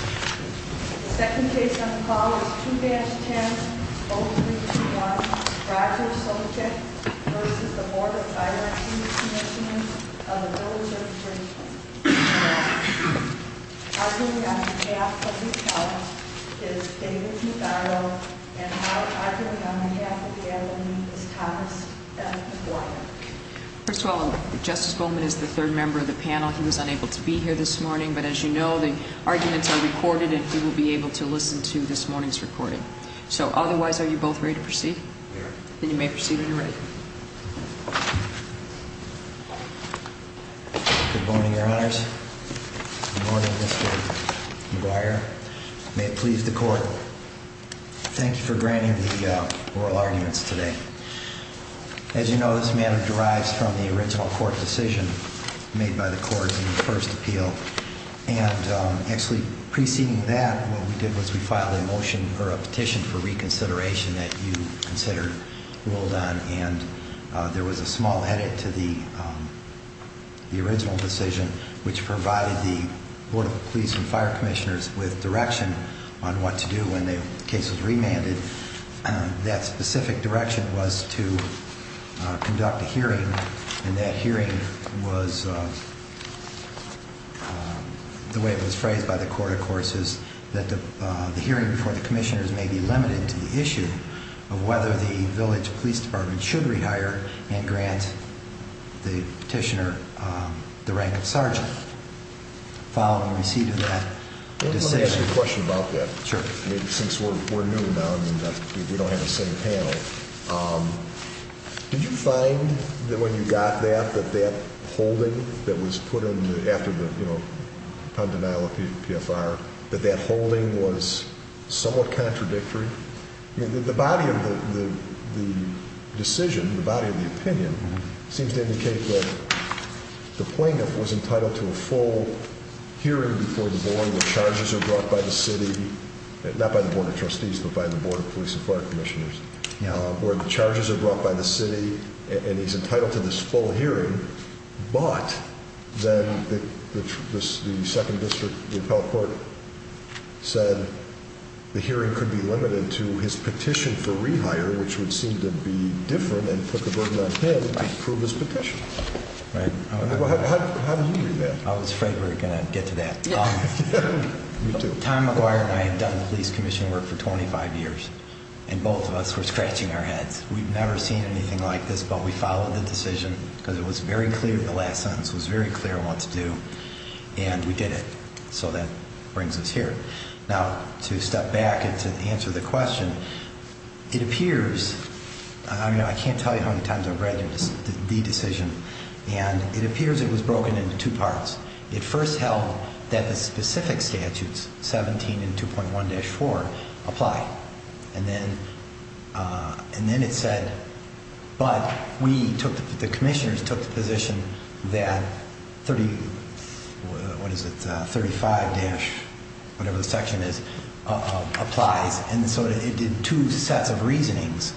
Arguing on behalf of the panel is David Medaro, and now arguing on behalf of the advocate is Thomas F. Goyer. Good morning, your honors. Good morning, Mr. Goyer. May it please the court, thank you for granting the oral arguments today. As you know, this matter derives from the original court decision made by the court in the first appeal. And actually preceding that, what we did was we filed a motion or a petition for reconsideration that you consider ruled on, and there was a small edit to the original decision which provided the Board of Police and Fire Commissioners with direction on what to do when the case was remanded. And that specific direction was to conduct a hearing, and that hearing was, the way it was phrased by the court, of course, is that the hearing before the commissioners may be limited to the issue of whether the Village Police Department should rehire and grant the petitioner the rank of sergeant. Following receipt of that decision... Since we're new now, and we don't have the same panel, did you find that when you got that, that that holding that was put in after the, you know, pundential of PFR, that that holding was somewhat contradictory? The body of the decision, the body of the opinion, seems to indicate that the plaintiff was entitled to a full hearing before the Board where charges are brought by the City, not by the Board of Trustees, but by the Board of Police and Fire Commissioners, where the charges are brought by the City, and he's entitled to this full hearing. But then the second district, the appellate court, said the hearing could be limited to his petition for rehire, which would seem to be different and put the burden on him to approve his petition. How do you read that? I was afraid we were going to get to that. Tom McGuire and I had done police commission work for 25 years, and both of us were scratching our heads. We'd never seen anything like this, but we followed the decision because it was very clear, the last sentence was very clear what to do, and we did it. So that brings us here. Now, to step back and to answer the question, it appears, I can't tell you how many times I've read the decision, and it appears it was broken into two parts. It first held that the specific statutes, 17 and 2.1-4, apply, and then it said, but the commissioners took the position that 35-whatever the section is, applies, and so it did two sets of reasonings.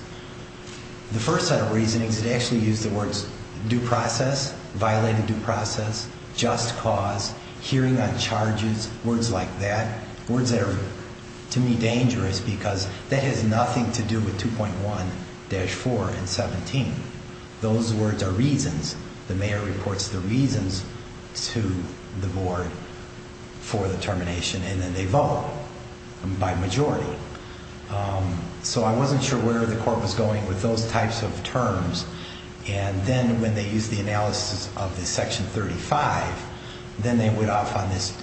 The first set of reasonings, it actually used the words due process, violated due process, just cause, hearing on charges, words like that, words that are, to me, dangerous because that has nothing to do with 2.1-4 and 17. Those words are reasons. The mayor reports the reasons to the board for the termination, and then they vote by majority. So I wasn't sure where the court was going with those types of terms, and then when they used the analysis of the section 35, then they went off on this,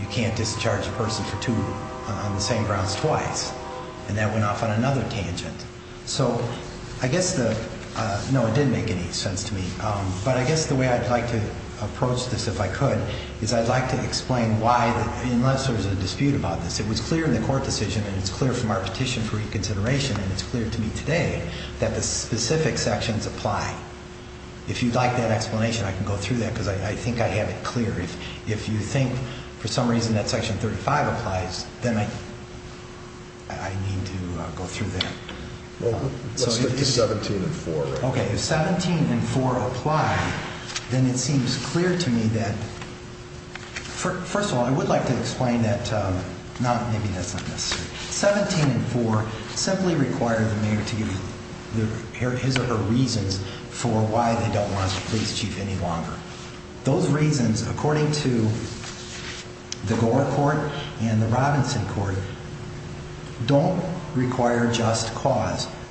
you can't discharge a person for two on the same grounds twice, and that went off on another tangent. So I guess the, no, it didn't make any sense to me, but I guess the way I'd like to approach this, if I could, is I'd like to explain why, unless there's a dispute about this, it was clear in the court decision, and it's clear from our petition for reconsideration, and it's clear to me today, that the specific sections apply. If you'd like that explanation, I can go through that, because I think I have it clear. If you think, for some reason, that section 35 applies, then I need to go through that. Let's get to 17 and 4.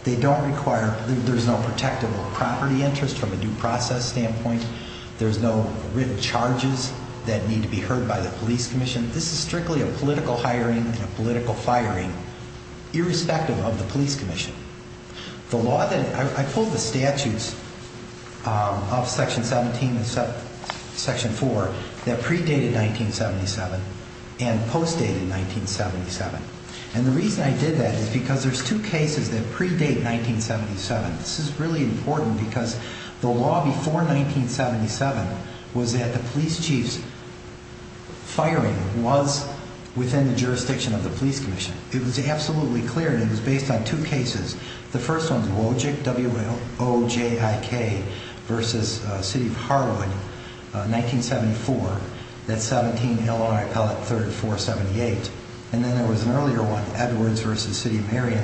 They don't require, there's no protective of property interest from a due process standpoint. There's no written charges that need to be heard by the police commission. This is strictly a political hiring and a political firing, irrespective of the police commission. The law that, I pulled the statutes of section 17 and section 4 that predated 1977 and postdated 1977, and the reason I did that is because there's two cases that predate 1977. This is really important, because the law before 1977 was that the police chief's firing was within the jurisdiction of the police commission. It was absolutely clear, and it was based on two cases. The first one, Wojik versus City of Harwood, 1974, that's 17 Illinois Appellate 3478, and then there was an earlier one, Edwards versus City of Marion,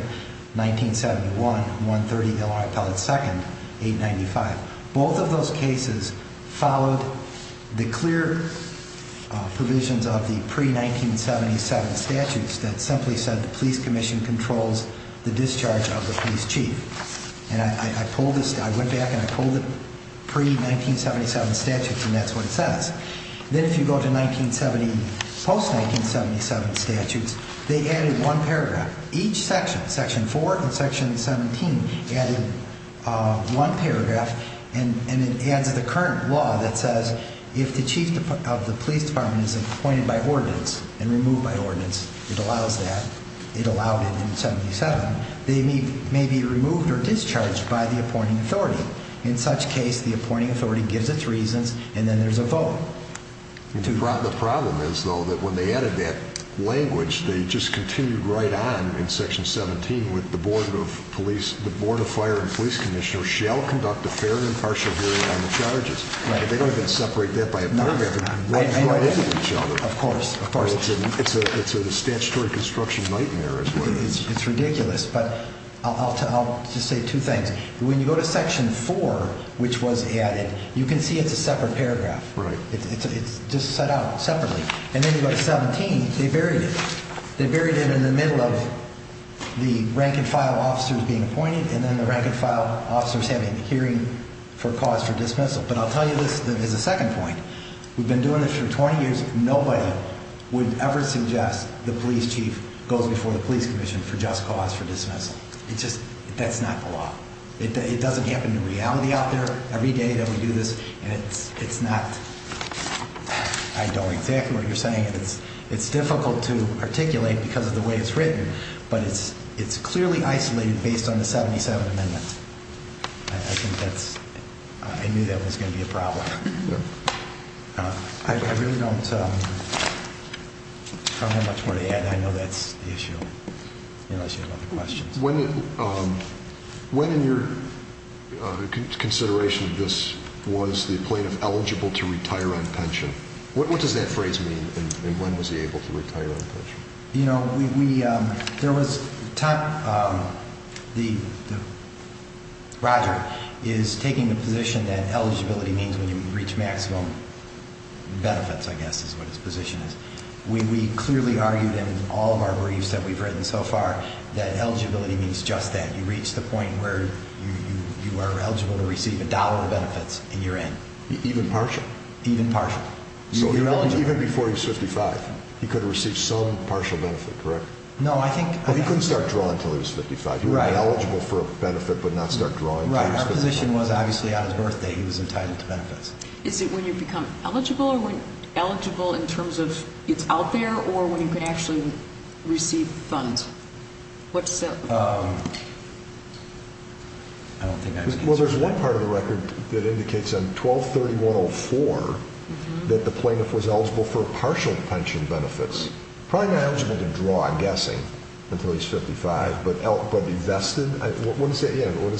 1971, 130 Illinois Appellate 2nd, 895. Both of those cases followed the clear provisions of the pre-1977 statutes that simply said the police commission controls the discharge of the police chief, and I went back and I pulled the pre-1977 statutes, and that's what it says. Then if you go to 1970, post-1977 statutes, they added one paragraph. Each section, section 4 and section 17, added one paragraph, and it adds the current law that says if the chief of the police department is appointed by ordinance and removed by ordinance, it allows that, it allowed it in 77, they may be removed or discharged by the appointing authority. In such case, the appointing authority gives its reasons, and then there's a vote. The problem is, though, that when they added that language, they just continued right on in section 17 with the board of police, the board of fire and police commissioner shall conduct a fair and impartial hearing on the charges. They don't even separate that by a paragraph. Of course, of course. It's ridiculous, but I'll just say two things. When you go to section 4, which was added, you can see it's a separate paragraph. It's just set out separately. And then you go to 17, they buried it. They buried it in the middle of the rank-and-file officers being appointed, and then the rank-and-file officers having a hearing for cause for dismissal. But I'll tell you this as a second point. We've been doing this for 20 years. Nobody would ever suggest the police chief goes before the police commission for just cause for dismissal. It's just, that's not the law. It doesn't happen in reality out there every day that we do this, and it's not, I don't know exactly what you're saying. It's difficult to articulate because of the way it's written, but it's clearly isolated based on the 77 amendment. I think that's, I knew that was going to be a problem. I really don't have much more to add. I know that's the issue, unless you have other questions. When in your consideration of this was the plaintiff eligible to retire on pension? What does that phrase mean, and when was he able to retire on pension? You know, we, there was, Roger is taking the position that eligibility means when you reach maximum benefits, I guess is what his position is. We clearly argued in all of our briefs that we've written so far that eligibility means just that. You reach the point where you are eligible to receive a dollar of benefits in your end. Even partial? Even partial. Even before he was 55, he could have received some partial benefit, correct? No, I think. He couldn't start drawing until he was 55. He would be eligible for a benefit, but not start drawing until he was 55. Right, our position was obviously on his birthday he was entitled to benefits. Is it when you become eligible, or eligible in terms of it's out there, or when you can actually receive funds? I don't think I can answer that. Well, there's one part of the record that indicates on 12-3104 that the plaintiff was eligible for partial pension benefits. Probably not eligible to draw, I'm guessing, until he's 55, but invested? What does that mean?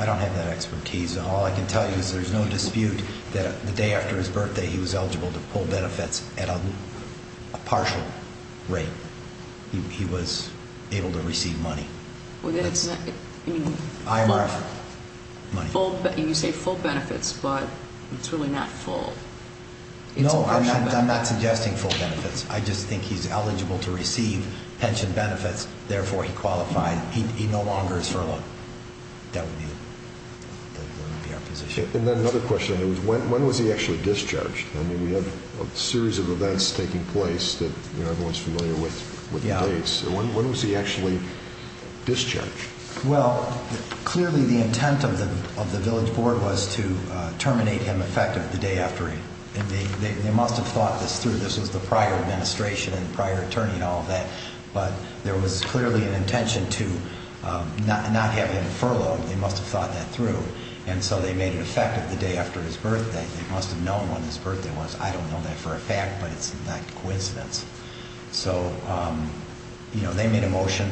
I don't have that expertise. All I can tell you is there's no dispute that the day after his birthday he was eligible to pull benefits at a partial rate. He was able to receive money. You say full benefits, but it's really not full. No, I'm not suggesting full benefits. I just think he's eligible to receive pension benefits, therefore he qualified. He no longer is furloughed. That would be our position. And then another question, when was he actually discharged? We have a series of events taking place that everyone's familiar with. When was he actually discharged? Well, clearly the intent of the village board was to terminate him effective the day after. They must have thought this through. This was the prior administration and prior attorney and all of that. But there was clearly an intention to not have him furloughed. They must have thought that through. And so they made an effective the day after his birthday. They must have known when his birthday was. I don't know that for a fact, but it's not a coincidence. So, you know, they made a motion.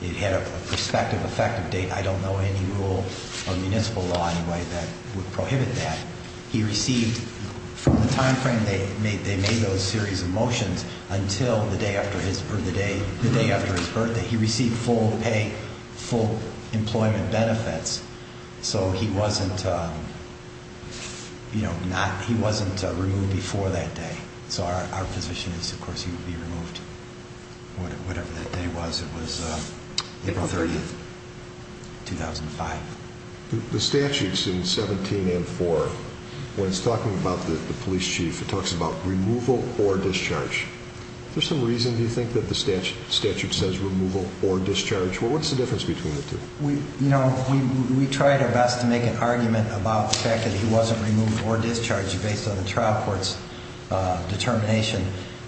It had a prospective effective date. I don't know any rule or municipal law anyway that would prohibit that. He received, from the time frame they made those series of motions, until the day after his birthday. He received full pay, full employment benefits. So he wasn't, you know, he wasn't removed before that day. So our position is, of course, he would be removed whatever that day was. It was April 30th, 2005. The statutes in 17 and 4, when it's talking about the police chief, it talks about removal or discharge. Is there some reason you think that the statute says removal or discharge? What's the difference between the two? You know, we tried our best to make an argument about the fact that he wasn't removed or discharged based on the trial court's determination.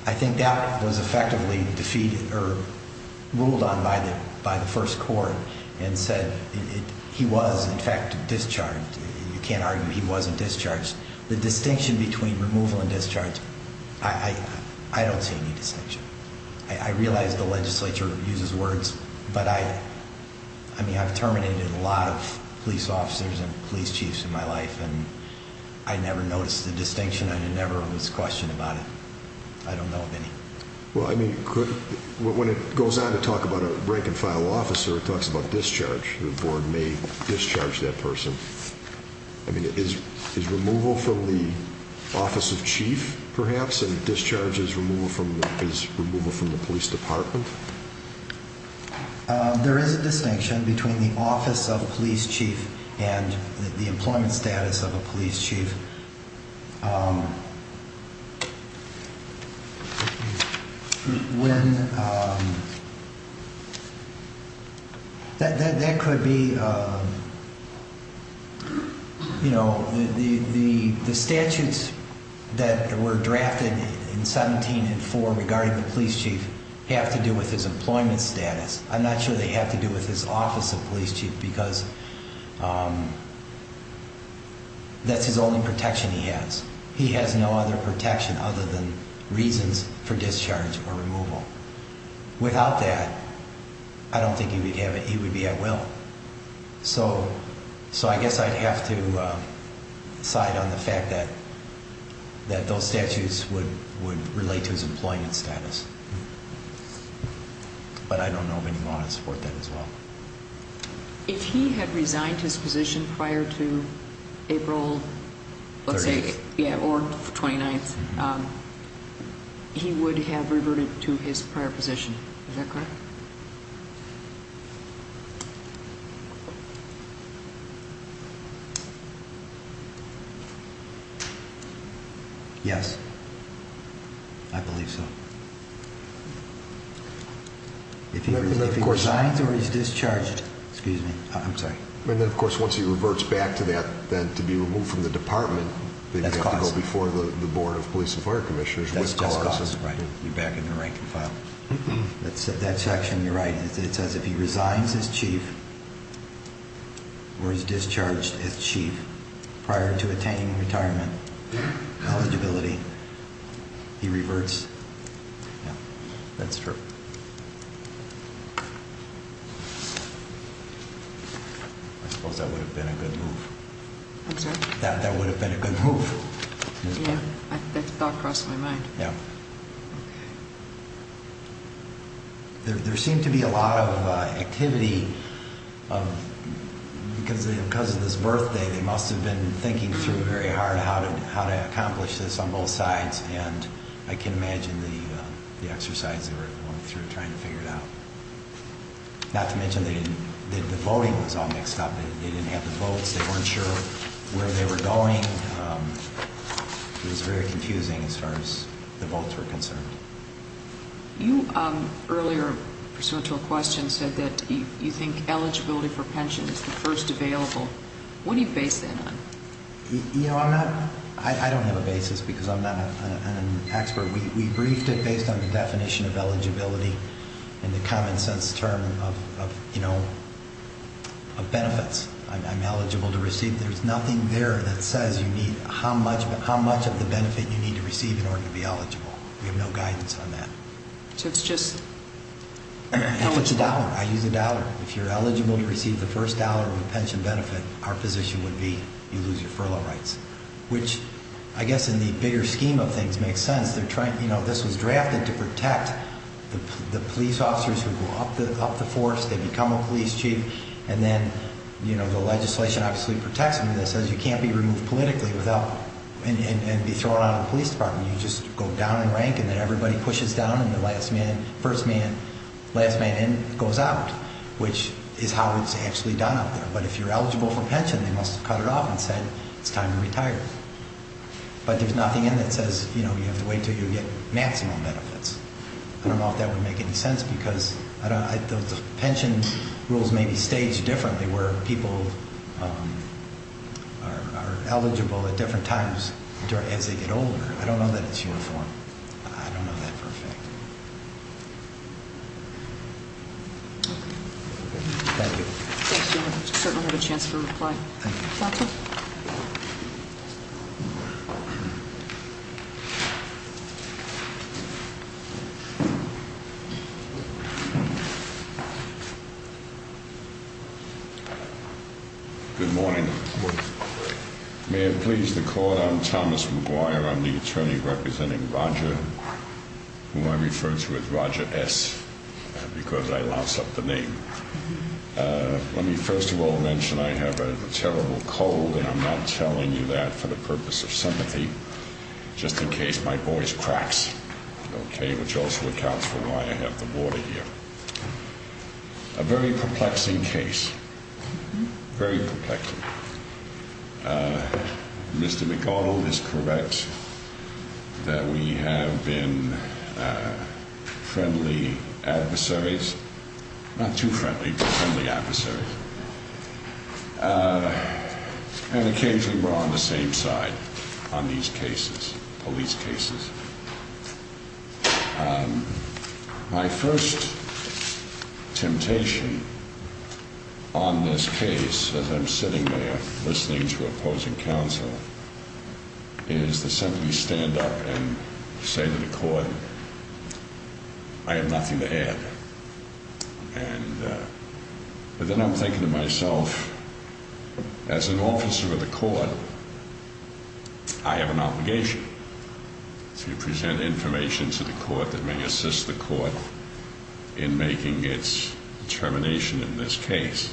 I think that was effectively defeated or ruled on by the first court and said he was, in fact, discharged. You can't argue he wasn't discharged. The distinction between removal and discharge, I don't see any distinction. I realize the legislature uses words, but I mean, I've terminated a lot of police officers and police chiefs in my life, and I never noticed a distinction. I never was questioned about it. I don't know of any. Well, I mean, when it goes on to talk about a break and file officer, when it talks about discharge, the board may discharge that person. I mean, is removal from the office of chief, perhaps, and discharge is removal from the police department? There is a distinction between the office of police chief and the employment status of a police chief. That could be, you know, the statutes that were drafted in 17 and 4 regarding the police chief have to do with his employment status. I'm not sure they have to do with his office of police chief because that's his only protection he has. He has no other protection other than reasons for discharge or removal. Without that, I don't think he would be at will. So I guess I'd have to side on the fact that those statutes would relate to his employment status. But I don't know if anyone would support that as well. If he had resigned his position prior to April, let's say, or 29th, he would have reverted to his prior position. Is that correct? Yes. I believe so. If he resigns or is discharged... Excuse me. I'm sorry. And then, of course, once he reverts back to that, to be removed from the department, he'd have to go before the board of police and fire commissioners. That's cause. Right. You're back in the rank and file. That section, you're right. It says if he resigns as chief or is discharged as chief prior to attaining retirement eligibility, he reverts. That's true. I suppose that would have been a good move. I'm sorry? That would have been a good move. Yeah. That thought crossed my mind. Yeah. Okay. There seemed to be a lot of activity because of this birthday. They must have been thinking through very hard how to accomplish this on both sides. And I can imagine the exercise they were going through trying to figure it out. Not to mention the voting was all mixed up. They didn't have the votes. They weren't sure where they were going. It was very confusing as far as the votes were concerned. You earlier, pursuant to a question, said that you think eligibility for pension is the first available. What do you base that on? I don't have a basis because I'm not an expert. We briefed it based on the definition of eligibility and the common sense term of benefits. I'm eligible to receive. There's nothing there that says how much of the benefit you need to receive in order to be eligible. We have no guidance on that. So it's just how much? If it's a dollar, I use a dollar. If you're eligible to receive the first dollar of a pension benefit, our position would be you lose your furlough rights. Which I guess in the bigger scheme of things makes sense. This was drafted to protect the police officers who go up the force, they become a police chief. And then the legislation obviously protects them. It says you can't be removed politically and be thrown out of the police department. You just go down in rank and then everybody pushes down and the last man, first man, last man in goes out. Which is how it's actually done out there. But if you're eligible for pension, they must have cut it off and said it's time to retire. But there's nothing in that says you have to wait until you get maximum benefits. I don't know if that would make any sense because the pension rules may be staged differently where people are eligible at different times as they get older. I don't know that it's uniform. I don't know that for a fact. Okay. Thank you. I certainly have a chance for reply. Thank you. Good morning. May it please the court. I'm Thomas McGuire. I'm the attorney representing Roger. Who I refer to as Roger S. Because I lost up the name. Let me first of all mention I have a terrible cold and I'm not telling you that for the purpose of sympathy. Just in case my voice cracks. Okay. Which also accounts for why I have the water here. A very perplexing case. Very perplexing. Mr. McDonnell is correct that we have been friendly adversaries. Not too friendly but friendly adversaries. And occasionally we're on the same side on these cases, police cases. My first temptation on this case as I'm sitting there listening to opposing counsel is to simply stand up and say to the court I have nothing to add. But then I'm thinking to myself as an officer of the court I have an obligation to present information to the court that may assist the court in making its determination in this case.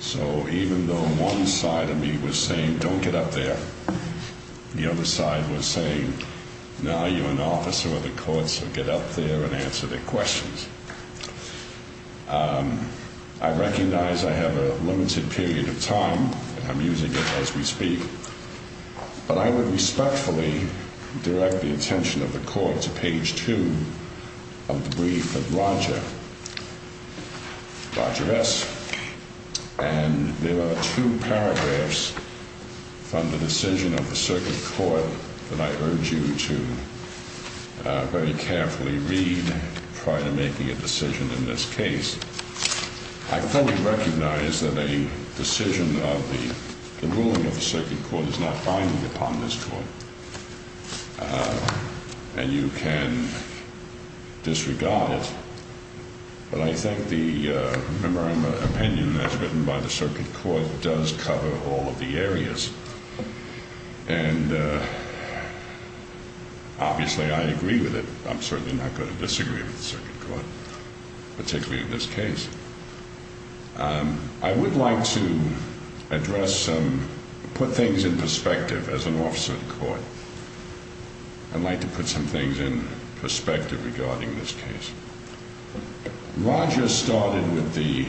So even though one side of me was saying get up there. The other side was saying now you're an officer of the court so get up there and answer the questions. I recognize I have a limited period of time and I'm using it as we speak. But I would respectfully direct the attention of the court to page two of the brief of Roger. Roger S. And there are two paragraphs from the decision of the circuit court that I urge you to very carefully read prior to making a decision in this case. I fully recognize that a decision of the ruling of the circuit court is not binding upon this court. And you can disregard it. But I think the opinion as written by the circuit court does cover all of the areas. And obviously I agree with it. I'm certainly not going to disagree with the circuit court. Particularly in this case. I would like to address some put things in perspective as an officer of the court. I'd like to put some things in perspective regarding this case. Roger started with the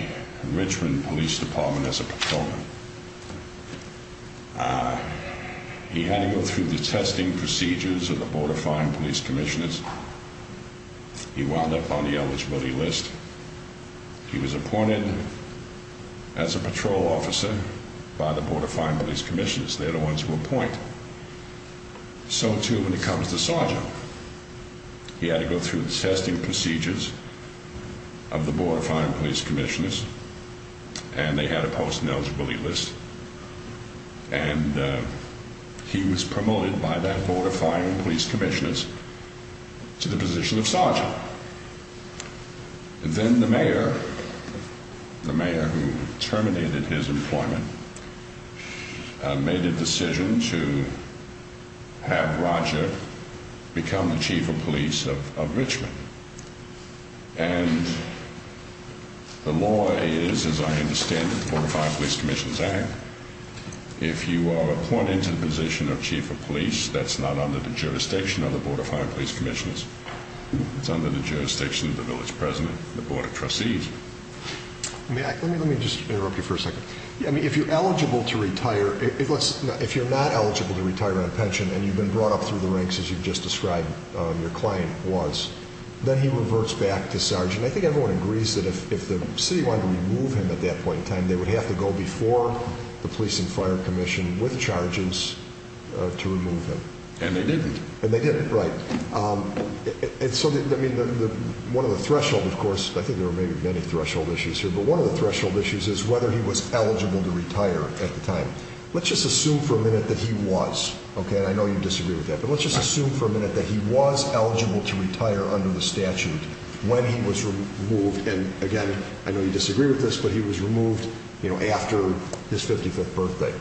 Richmond Police Department as a patrolman. He had to go through the testing procedures of the Board of Fire and Police Commissioners. He wound up on the eligibility list. He was appointed as a patrol officer by the Board of Fire and Police Commissioners. They're the ones who appoint. So too when it comes to Sergeant. He had to go through the testing procedures of the Board of Fire and Police Commissioners. And they had to post an eligibility list. And he was promoted by that Board of Fire and Police Commissioners to the position of Sergeant. Then the mayor, the mayor who terminated his employment made a decision to have Roger become the Chief of Police of Richmond. And the law is, as I understand it, the Board of Fire and Police Commissioners act. If you are appointed to the position of Chief of Police that's not under the jurisdiction of the Board of Fire and Police Commissioners. It's under the jurisdiction of the Village President and the Board of Trustees. Let me just interrupt you for a second. If you're eligible to retire, if you're not eligible to retire on a pension and you've been brought up through the ranks as you've just described your claim was, then he reverts back to Sergeant. I think everyone agrees that if the city wanted to remove him at that point in time they would have to go before the Police and Fire Commission with charges to remove him. And they didn't. And they didn't, right. One of the thresholds, of course, I think there are many threshold issues here, but one of the threshold issues is whether he was eligible to retire at the time. Let's just assume for a minute that he was. And I know you disagree with that. But let's just assume for a minute that he was eligible under the statute when he was removed. And again, I know you disagree with this, but he was removed after his 55th birthday.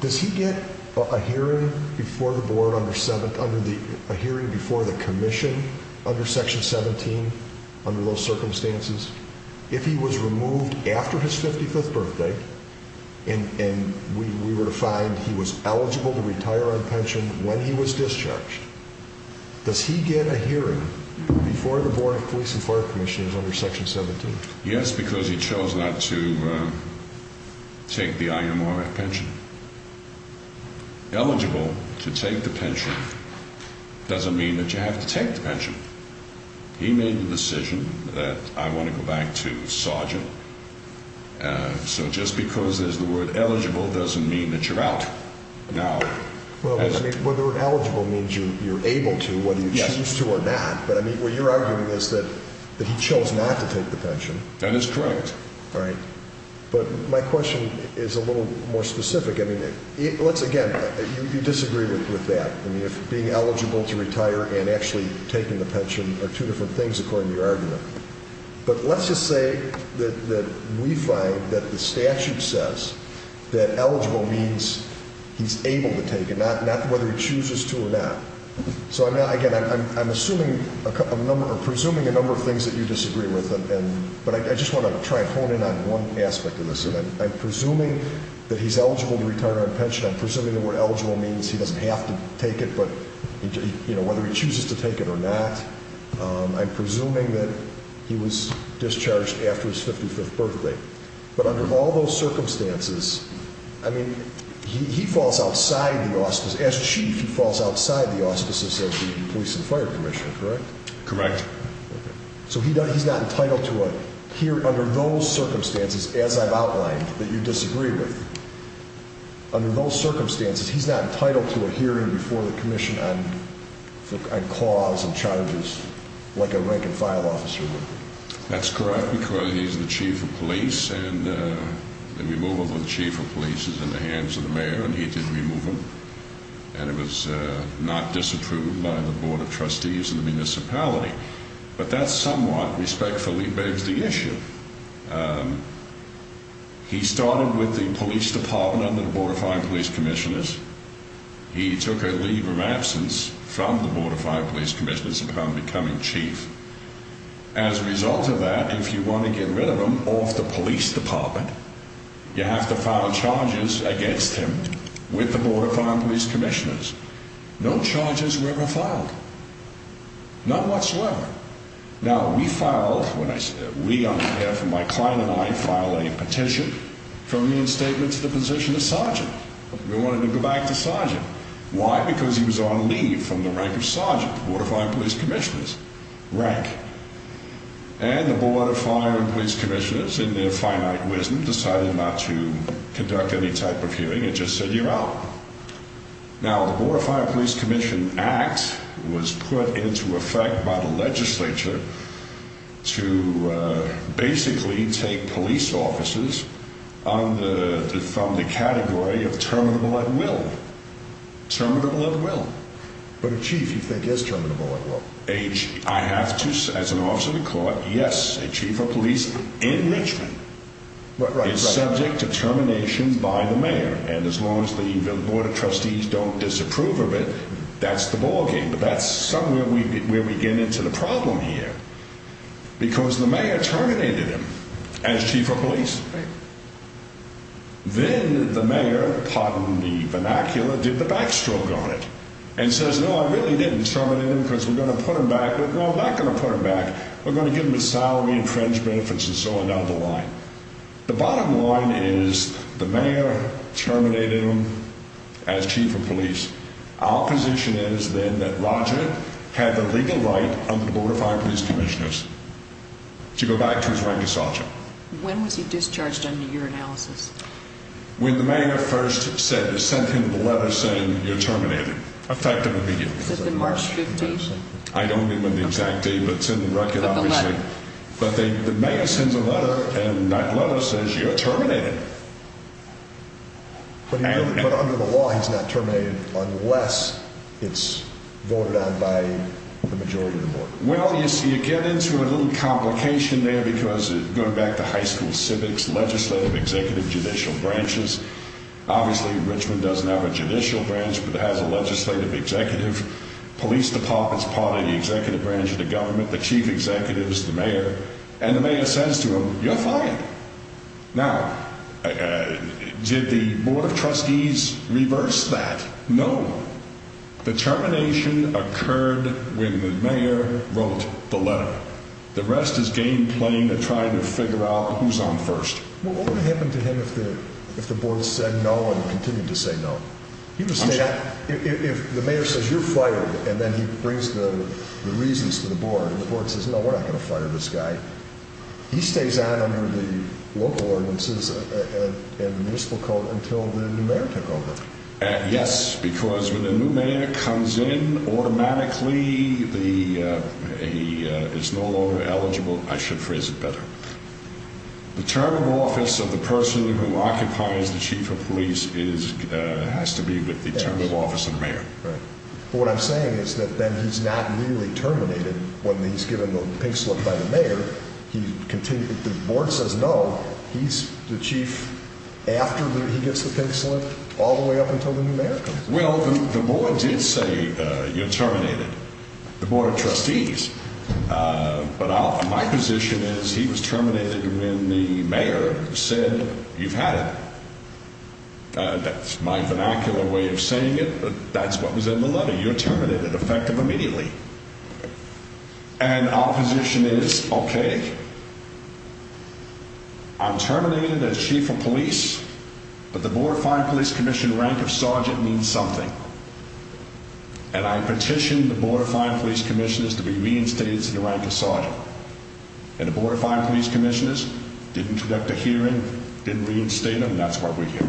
Does he get a hearing before the Board under the hearing before the Commission under Section 17 under those circumstances? If he was removed after his 55th birthday and we were to find he was eligible to retire on pension when he was discharged, does he get a hearing before the Board of Police and Fire Commission under Section 17? Yes, because he chose not to take the IMRF pension. Eligible to take the pension doesn't mean that you have to take the pension. He made the decision that I want to go back to Sergeant. So just because there's the word eligible doesn't mean that you're out. Whether eligible means you're able to, whether you choose to or not. But what you're arguing is that he chose not to take the pension. That is correct. But my question is a little more specific. Again, you disagree with that. Being eligible to retire and actually taking the pension are two different things according to your argument. But let's just say that we find that the statute says that eligible means he's able to take it, not whether he chooses to or not. So again, I'm assuming a number, or presuming a number of things that you disagree with, but I just want to try and hone in on one aspect of this. I'm presuming that he's eligible to retire on pension. I'm presuming the word eligible means he doesn't have to take it, but whether he chooses to take it or not. I'm presuming that he was discharged after his 55th birthday. I mean, he falls outside the auspices. As chief, he falls outside the auspices of the Police and Fire Commission, correct? Correct. So he's not entitled to a hearing under those circumstances, as I've outlined, that you disagree with. Under those circumstances, he's not entitled to a hearing before the Commission on cause and charges like a rank-and-file officer would. That's correct, because the Police is in the hands of the Mayor and he did remove him and it was not disapproved by the Board of Trustees and the municipality, but that somewhat respectfully begs the issue. He started with the Police Department under the Board of Fire and Police Commissioners. He took a leave of absence from the Board of Fire and Police Commissioners upon becoming chief. As a result of that, if you want to get rid of him off the Police Department, you file charges against him with the Board of Fire and Police Commissioners. No charges were ever filed. None whatsoever. Now, we filed, we on behalf of my client and I, filed a petition from the instatement to the position of sergeant. We wanted to go back to sergeant. Why? Because he was on leave from the rank of sergeant of the Board of Fire and Police Commissioners. And the Board of Fire and Police Commissioners, in their finite wisdom, didn't ask any type of hearing. It just said, you're out. Now, the Board of Fire and Police Commission Act was put into effect by the legislature to basically take police officers from the category of terminable at will. Terminable at will. But a chief, you think, is terminable at will. I have to say, as an officer of the court, yes, a chief of police in Richmond is subject to termination. It's subject to termination by the mayor. And as long as the Board of Trustees don't disapprove of it, that's the ballgame. But that's somewhere where we get into the problem here. Because the mayor terminated him as chief of police. Then the mayor, pardon the vernacular, did the backstroke on it and says, no, I really didn't terminate him because we're going to put him back. The bottom line is the mayor terminated him as chief of police. Our position is then that Roger had the legal right under the Board of Fire and Police Commissioners to go back to his rank of sergeant. When was he discharged under your analysis? When the mayor first sent him the letter saying you're terminated. Effective immediately. Was it March 15th? I don't remember the exact date, but it's in the record, obviously. And that letter says you're terminated. But under the law, he's not terminated unless it's voted on by the majority of the board. Well, you see, you get into a little complication there because going back to high school civics, legislative, executive, judicial branches, obviously Richmond doesn't have a judicial branch, but it has a legislative executive. Police Department's part of the executive branch of the government. Now, did the board of trustees reverse that? No. The termination occurred when the mayor wrote the letter. The rest is game playing to try to figure out who's on first. What would happen to him if the board said no and continued to say no? If the mayor says you're fired and then he brings the reasons to the board and the board says no, then he's not terminated by the local ordinances and the municipal code until the new mayor took over. Yes, because when the new mayor comes in, automatically he is no longer eligible. I should phrase it better. The term of office of the person who occupies the chief of police has to be with the term of office of the mayor. He's the chief after he gets the pink slip all the way up until the new mayor comes in. Well, the board did say you're terminated. The board of trustees. But my position is he was terminated when the mayor said you've had it. That's my vernacular way of saying it, but that's what was in the letter. You're terminated, effective immediately. I'm terminated as chief of police, but the board of fine police commission rank of sergeant means something. And I petitioned the board of fine police commissioners to be reinstated to the rank of sergeant. And the board of fine police commissioners didn't conduct a hearing, didn't reinstate him. That's what we hear.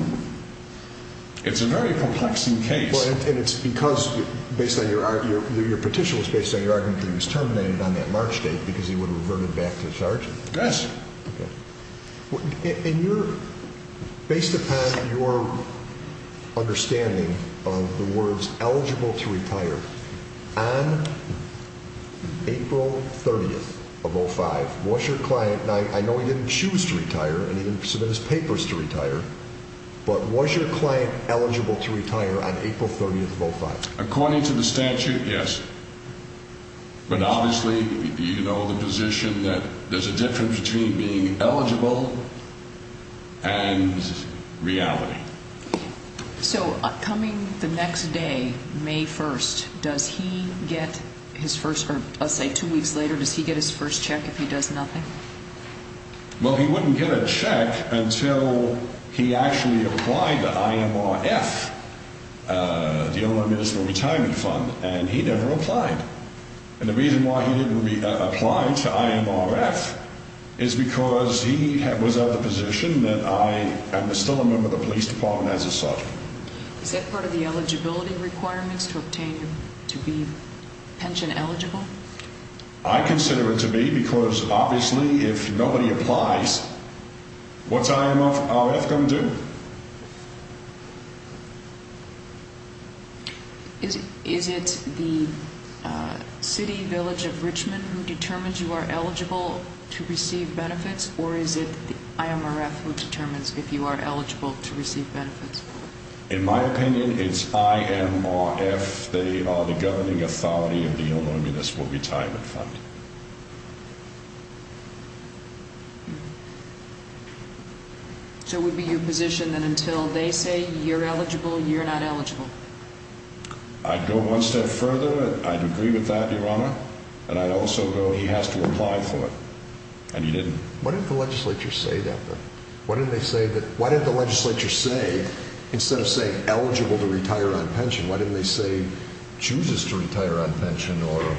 It's a very complexing case. And it's because based on your petition was based on your argument that he was terminated and your based upon your understanding of the words eligible to retire on April 30th of 05. Was your client, and I know he didn't choose to retire and he didn't submit his papers to retire, but was your client eligible to retire on April 30th of 05? According to the statute, yes. But obviously, you know the position and reality. So coming the next day, May 1st, does he get his first, or I'll say two weeks later, does he get his first check if he does nothing? Well, he wouldn't get a check until he actually applied to IMRF, the Illinois Municipal Retirement Fund, and he never applied. And the reason why he didn't apply to IMRF is because he was a member of the police department as a sergeant. Is that part of the eligibility requirements to obtain to be pension eligible? I consider it to be because obviously, if nobody applies, what's IMRF going to do? Is it the city village of Richmond who determines you are eligible to receive benefits or is it IMRF who determines if you are eligible to receive benefits? In my opinion, it's IMRF. They are the governing authority of the Illinois Municipal Retirement Fund. So it would be your position that until they say you're eligible, you're not eligible? I'd go one step further. I'd agree with that, and I'd also go he has to apply for it. And he didn't. Why didn't the legislature say that? Why didn't they say instead of saying eligible to retire on pension, why didn't they say chooses to retire on pension or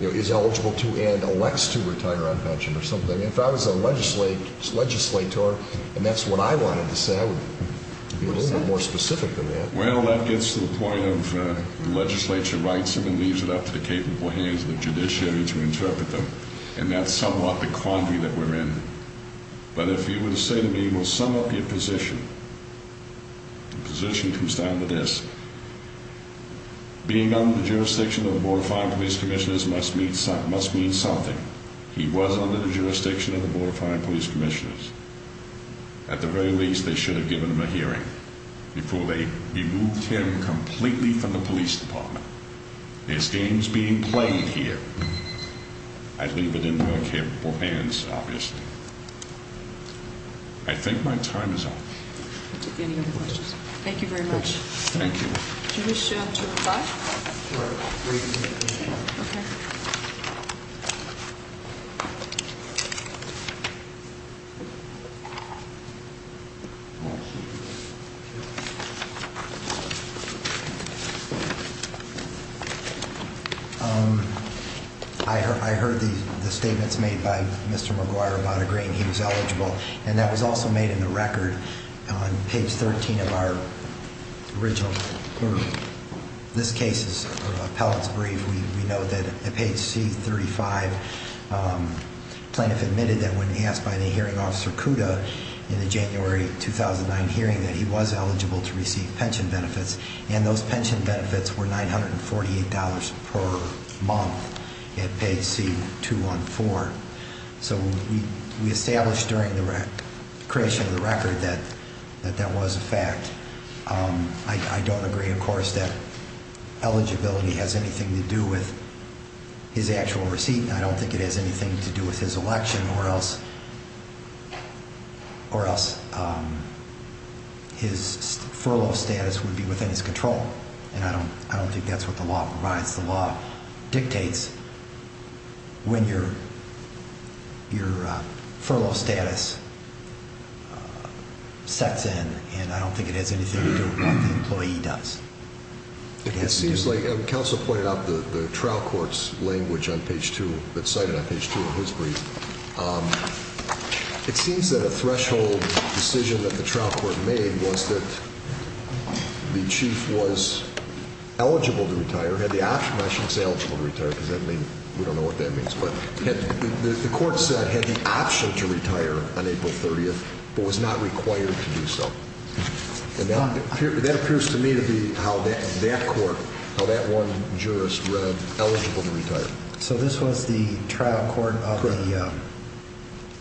is eligible to and elects to retire on pension? If I was a legislator and that's what I wanted to say, I would be a little bit more specific than that. Well, that gets to the point of the legislature writes them and leaves it up to the capable hands of the judiciary to interpret them. And that's somewhat the quandary that we're in. But if you were to say to me, well, sum up your position, the position comes down to this. Being under the jurisdiction of the Board of Fire and Police Commissioners must mean something. He was under the jurisdiction of the Board of Fire and Police Commissioners. At the very least, they should have given him a hearing before they removed him completely from the police department. There's games being played here. I'd leave it in your capable hands, obviously. I think my time is up. I'll take any other questions. Thank you very much. Thank you. Do you wish to reply? Sure, I'll wait a minute. Okay. Thank you. I heard the statements made by Mr. McGuire about agreeing he was eligible. And that was also made in the record on page 13 of our original, or this case's appellate's brief. We know that at page C35, plaintiff admitted that when he asked by the hearing officer Kuda in the January 2009 hearing that he was eligible to receive pension benefits. And those pension benefits were $948 per month at page C214. So we established during the creation of the record that that was a fact. I don't agree, of course, that eligibility has anything to do with his actual receipt. I don't think it has anything to do with his election or else his furlough status would be within his control. And I don't think that's what the law provides. The law dictates when your furlough status sets in, and I don't think it has anything to do with what the employee does. It seems like, and counsel pointed out the trial court's language on page 2, that cited on page 2 of his brief, it seems that a threshold decision that the trial court made was that the chief was eligible to retire, had the option, I shouldn't say eligible to retire because we don't know what that means, but the court said had the option to retire on April 30th but was not required to do so. And that appears to me to be how that court, the trial court of the,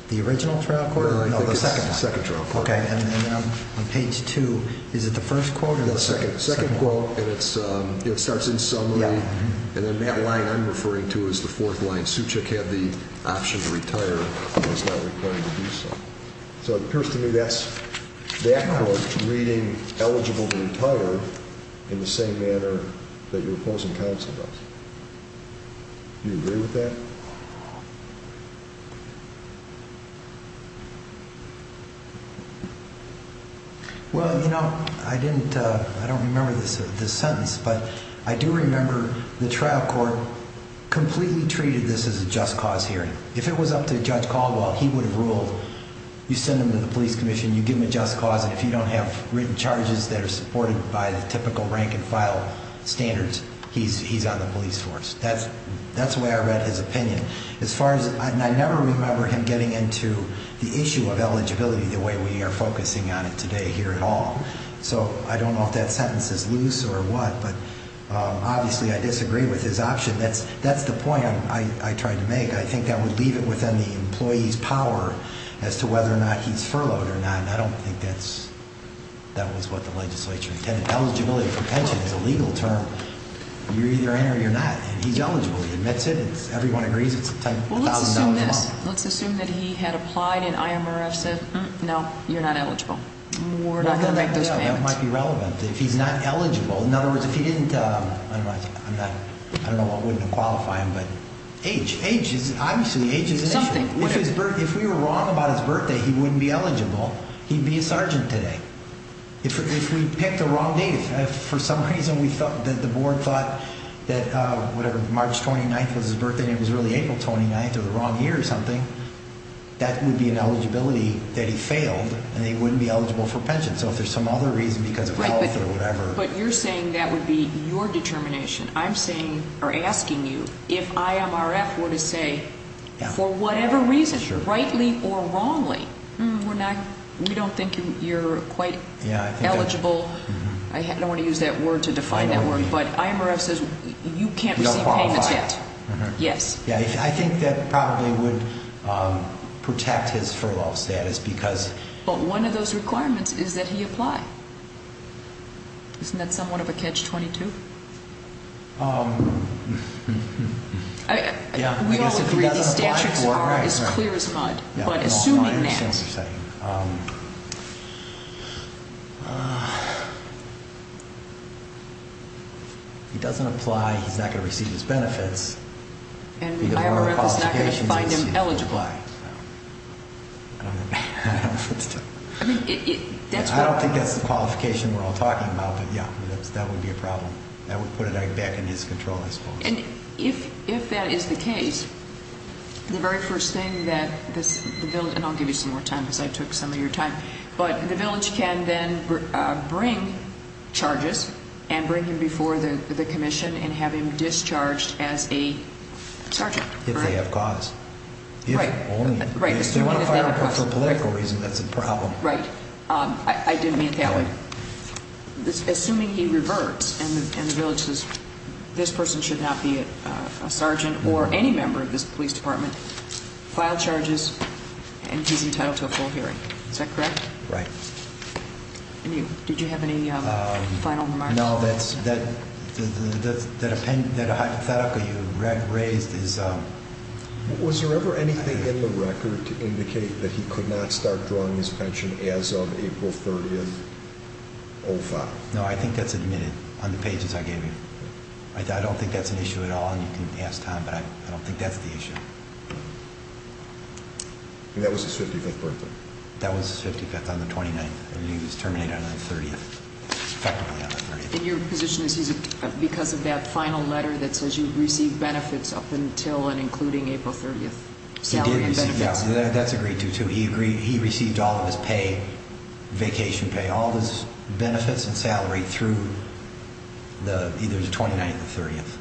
the original trial court? No, the second trial court. And on page 2, is it the first quote or the second? The second quote, and it starts in summary, and then that line I'm referring to is the fourth line, Suchik had the option to retire but was not required to do so. So it appears to me that court reading eligible to retire in the same manner that your opposing counsel does. Well, you know, I didn't, I don't remember this sentence, but I do remember the trial court completely treated this as a just cause hearing. If it was up to Judge Caldwell, he would have ruled you send him to the police commission, you give him a just cause, and if you don't have written charges that are supported by the typical rank and file standards, he's on the police force. And as far as, and I never remember him getting into the issue of eligibility the way we are focusing on it today here at all. So I don't know if that sentence is loose or what, but obviously I disagree with his option. That's the point I tried to make. I think that would leave it within the employee's power as to whether or not he's furloughed or not, and I don't think that was what the legislature intended. It's $1,000 a month. Well, let's assume this. Let's assume that he had applied and IMRF said, no, you're not eligible. We're not going to make those payments. That might be relevant. If he's not eligible, in other words, if he didn't, I don't know what would have qualified him, but age, age is obviously an issue. If we were wrong about his birthday, he wouldn't be eligible. He'd be a sergeant today. If we picked the wrong date, if for some reason we thought that the board thought that whatever, March 29th was his birthday and it was really April 29th or the wrong year or something, that would be an eligibility that he failed and he wouldn't be eligible for pension. So if there's some other reason because of health or whatever. But you're saying that that would be your determination. I'm saying or asking you if IMRF were to say for whatever reason, rightly or wrongly, we're not, we don't think you're quite eligible. I don't want to use that word to define that word, but IMRF says you can't receive payments yet. Yes. I think that probably would protect his furlough status because. But one of those requirements is that he apply. Isn't that somewhat of a catch-22? Yeah. We all agree the statutes are as clear as mud. But assuming that. He doesn't apply, he's not going to receive his benefits. And IMRF is not going to find him eligible. I mean, I don't think that's the qualification we're all talking about. But yeah, that would be a problem. That would put it back in his control, I suppose. And if that is the case, the very first thing that this, and I'll give you some more time because I took some of your time. But the village can then bring charges and bring him before the commission and have him discharged as a sergeant. If they have cause. Right. If they want to fire him for political reasons, that's a problem. Right. I didn't mean it that way. Assuming he reverts and the village says this person should not be a sergeant or any member of this police department, file charges and he's entitled to a full hearing. Is that correct? Right. And you, did you have any final remarks? No, that's, that hypothetical you raised is, was there ever anything in the record to indicate that he could not start drawing his pension as of April 30th, 05? No, I think that's admitted on the pages I gave you. I don't think that's an issue at all and you can ask Tom but I don't think that's the issue. And that was his 55th birthday? That was his 55th on the 29th and he was terminated on the 30th, effectively on the 30th. And your position is he's, because of that final letter that says you received benefits up until and including April 30th salary and benefits? Yeah, that's agreed to too. He agreed, he received all of his pay, vacation pay, all of his benefits and salary through the, either the 29th or the 30th,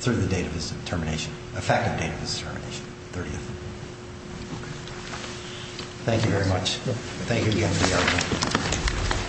through the date of his termination, effective date of his termination, 30th. Thank you very much. Thank you again for the argument.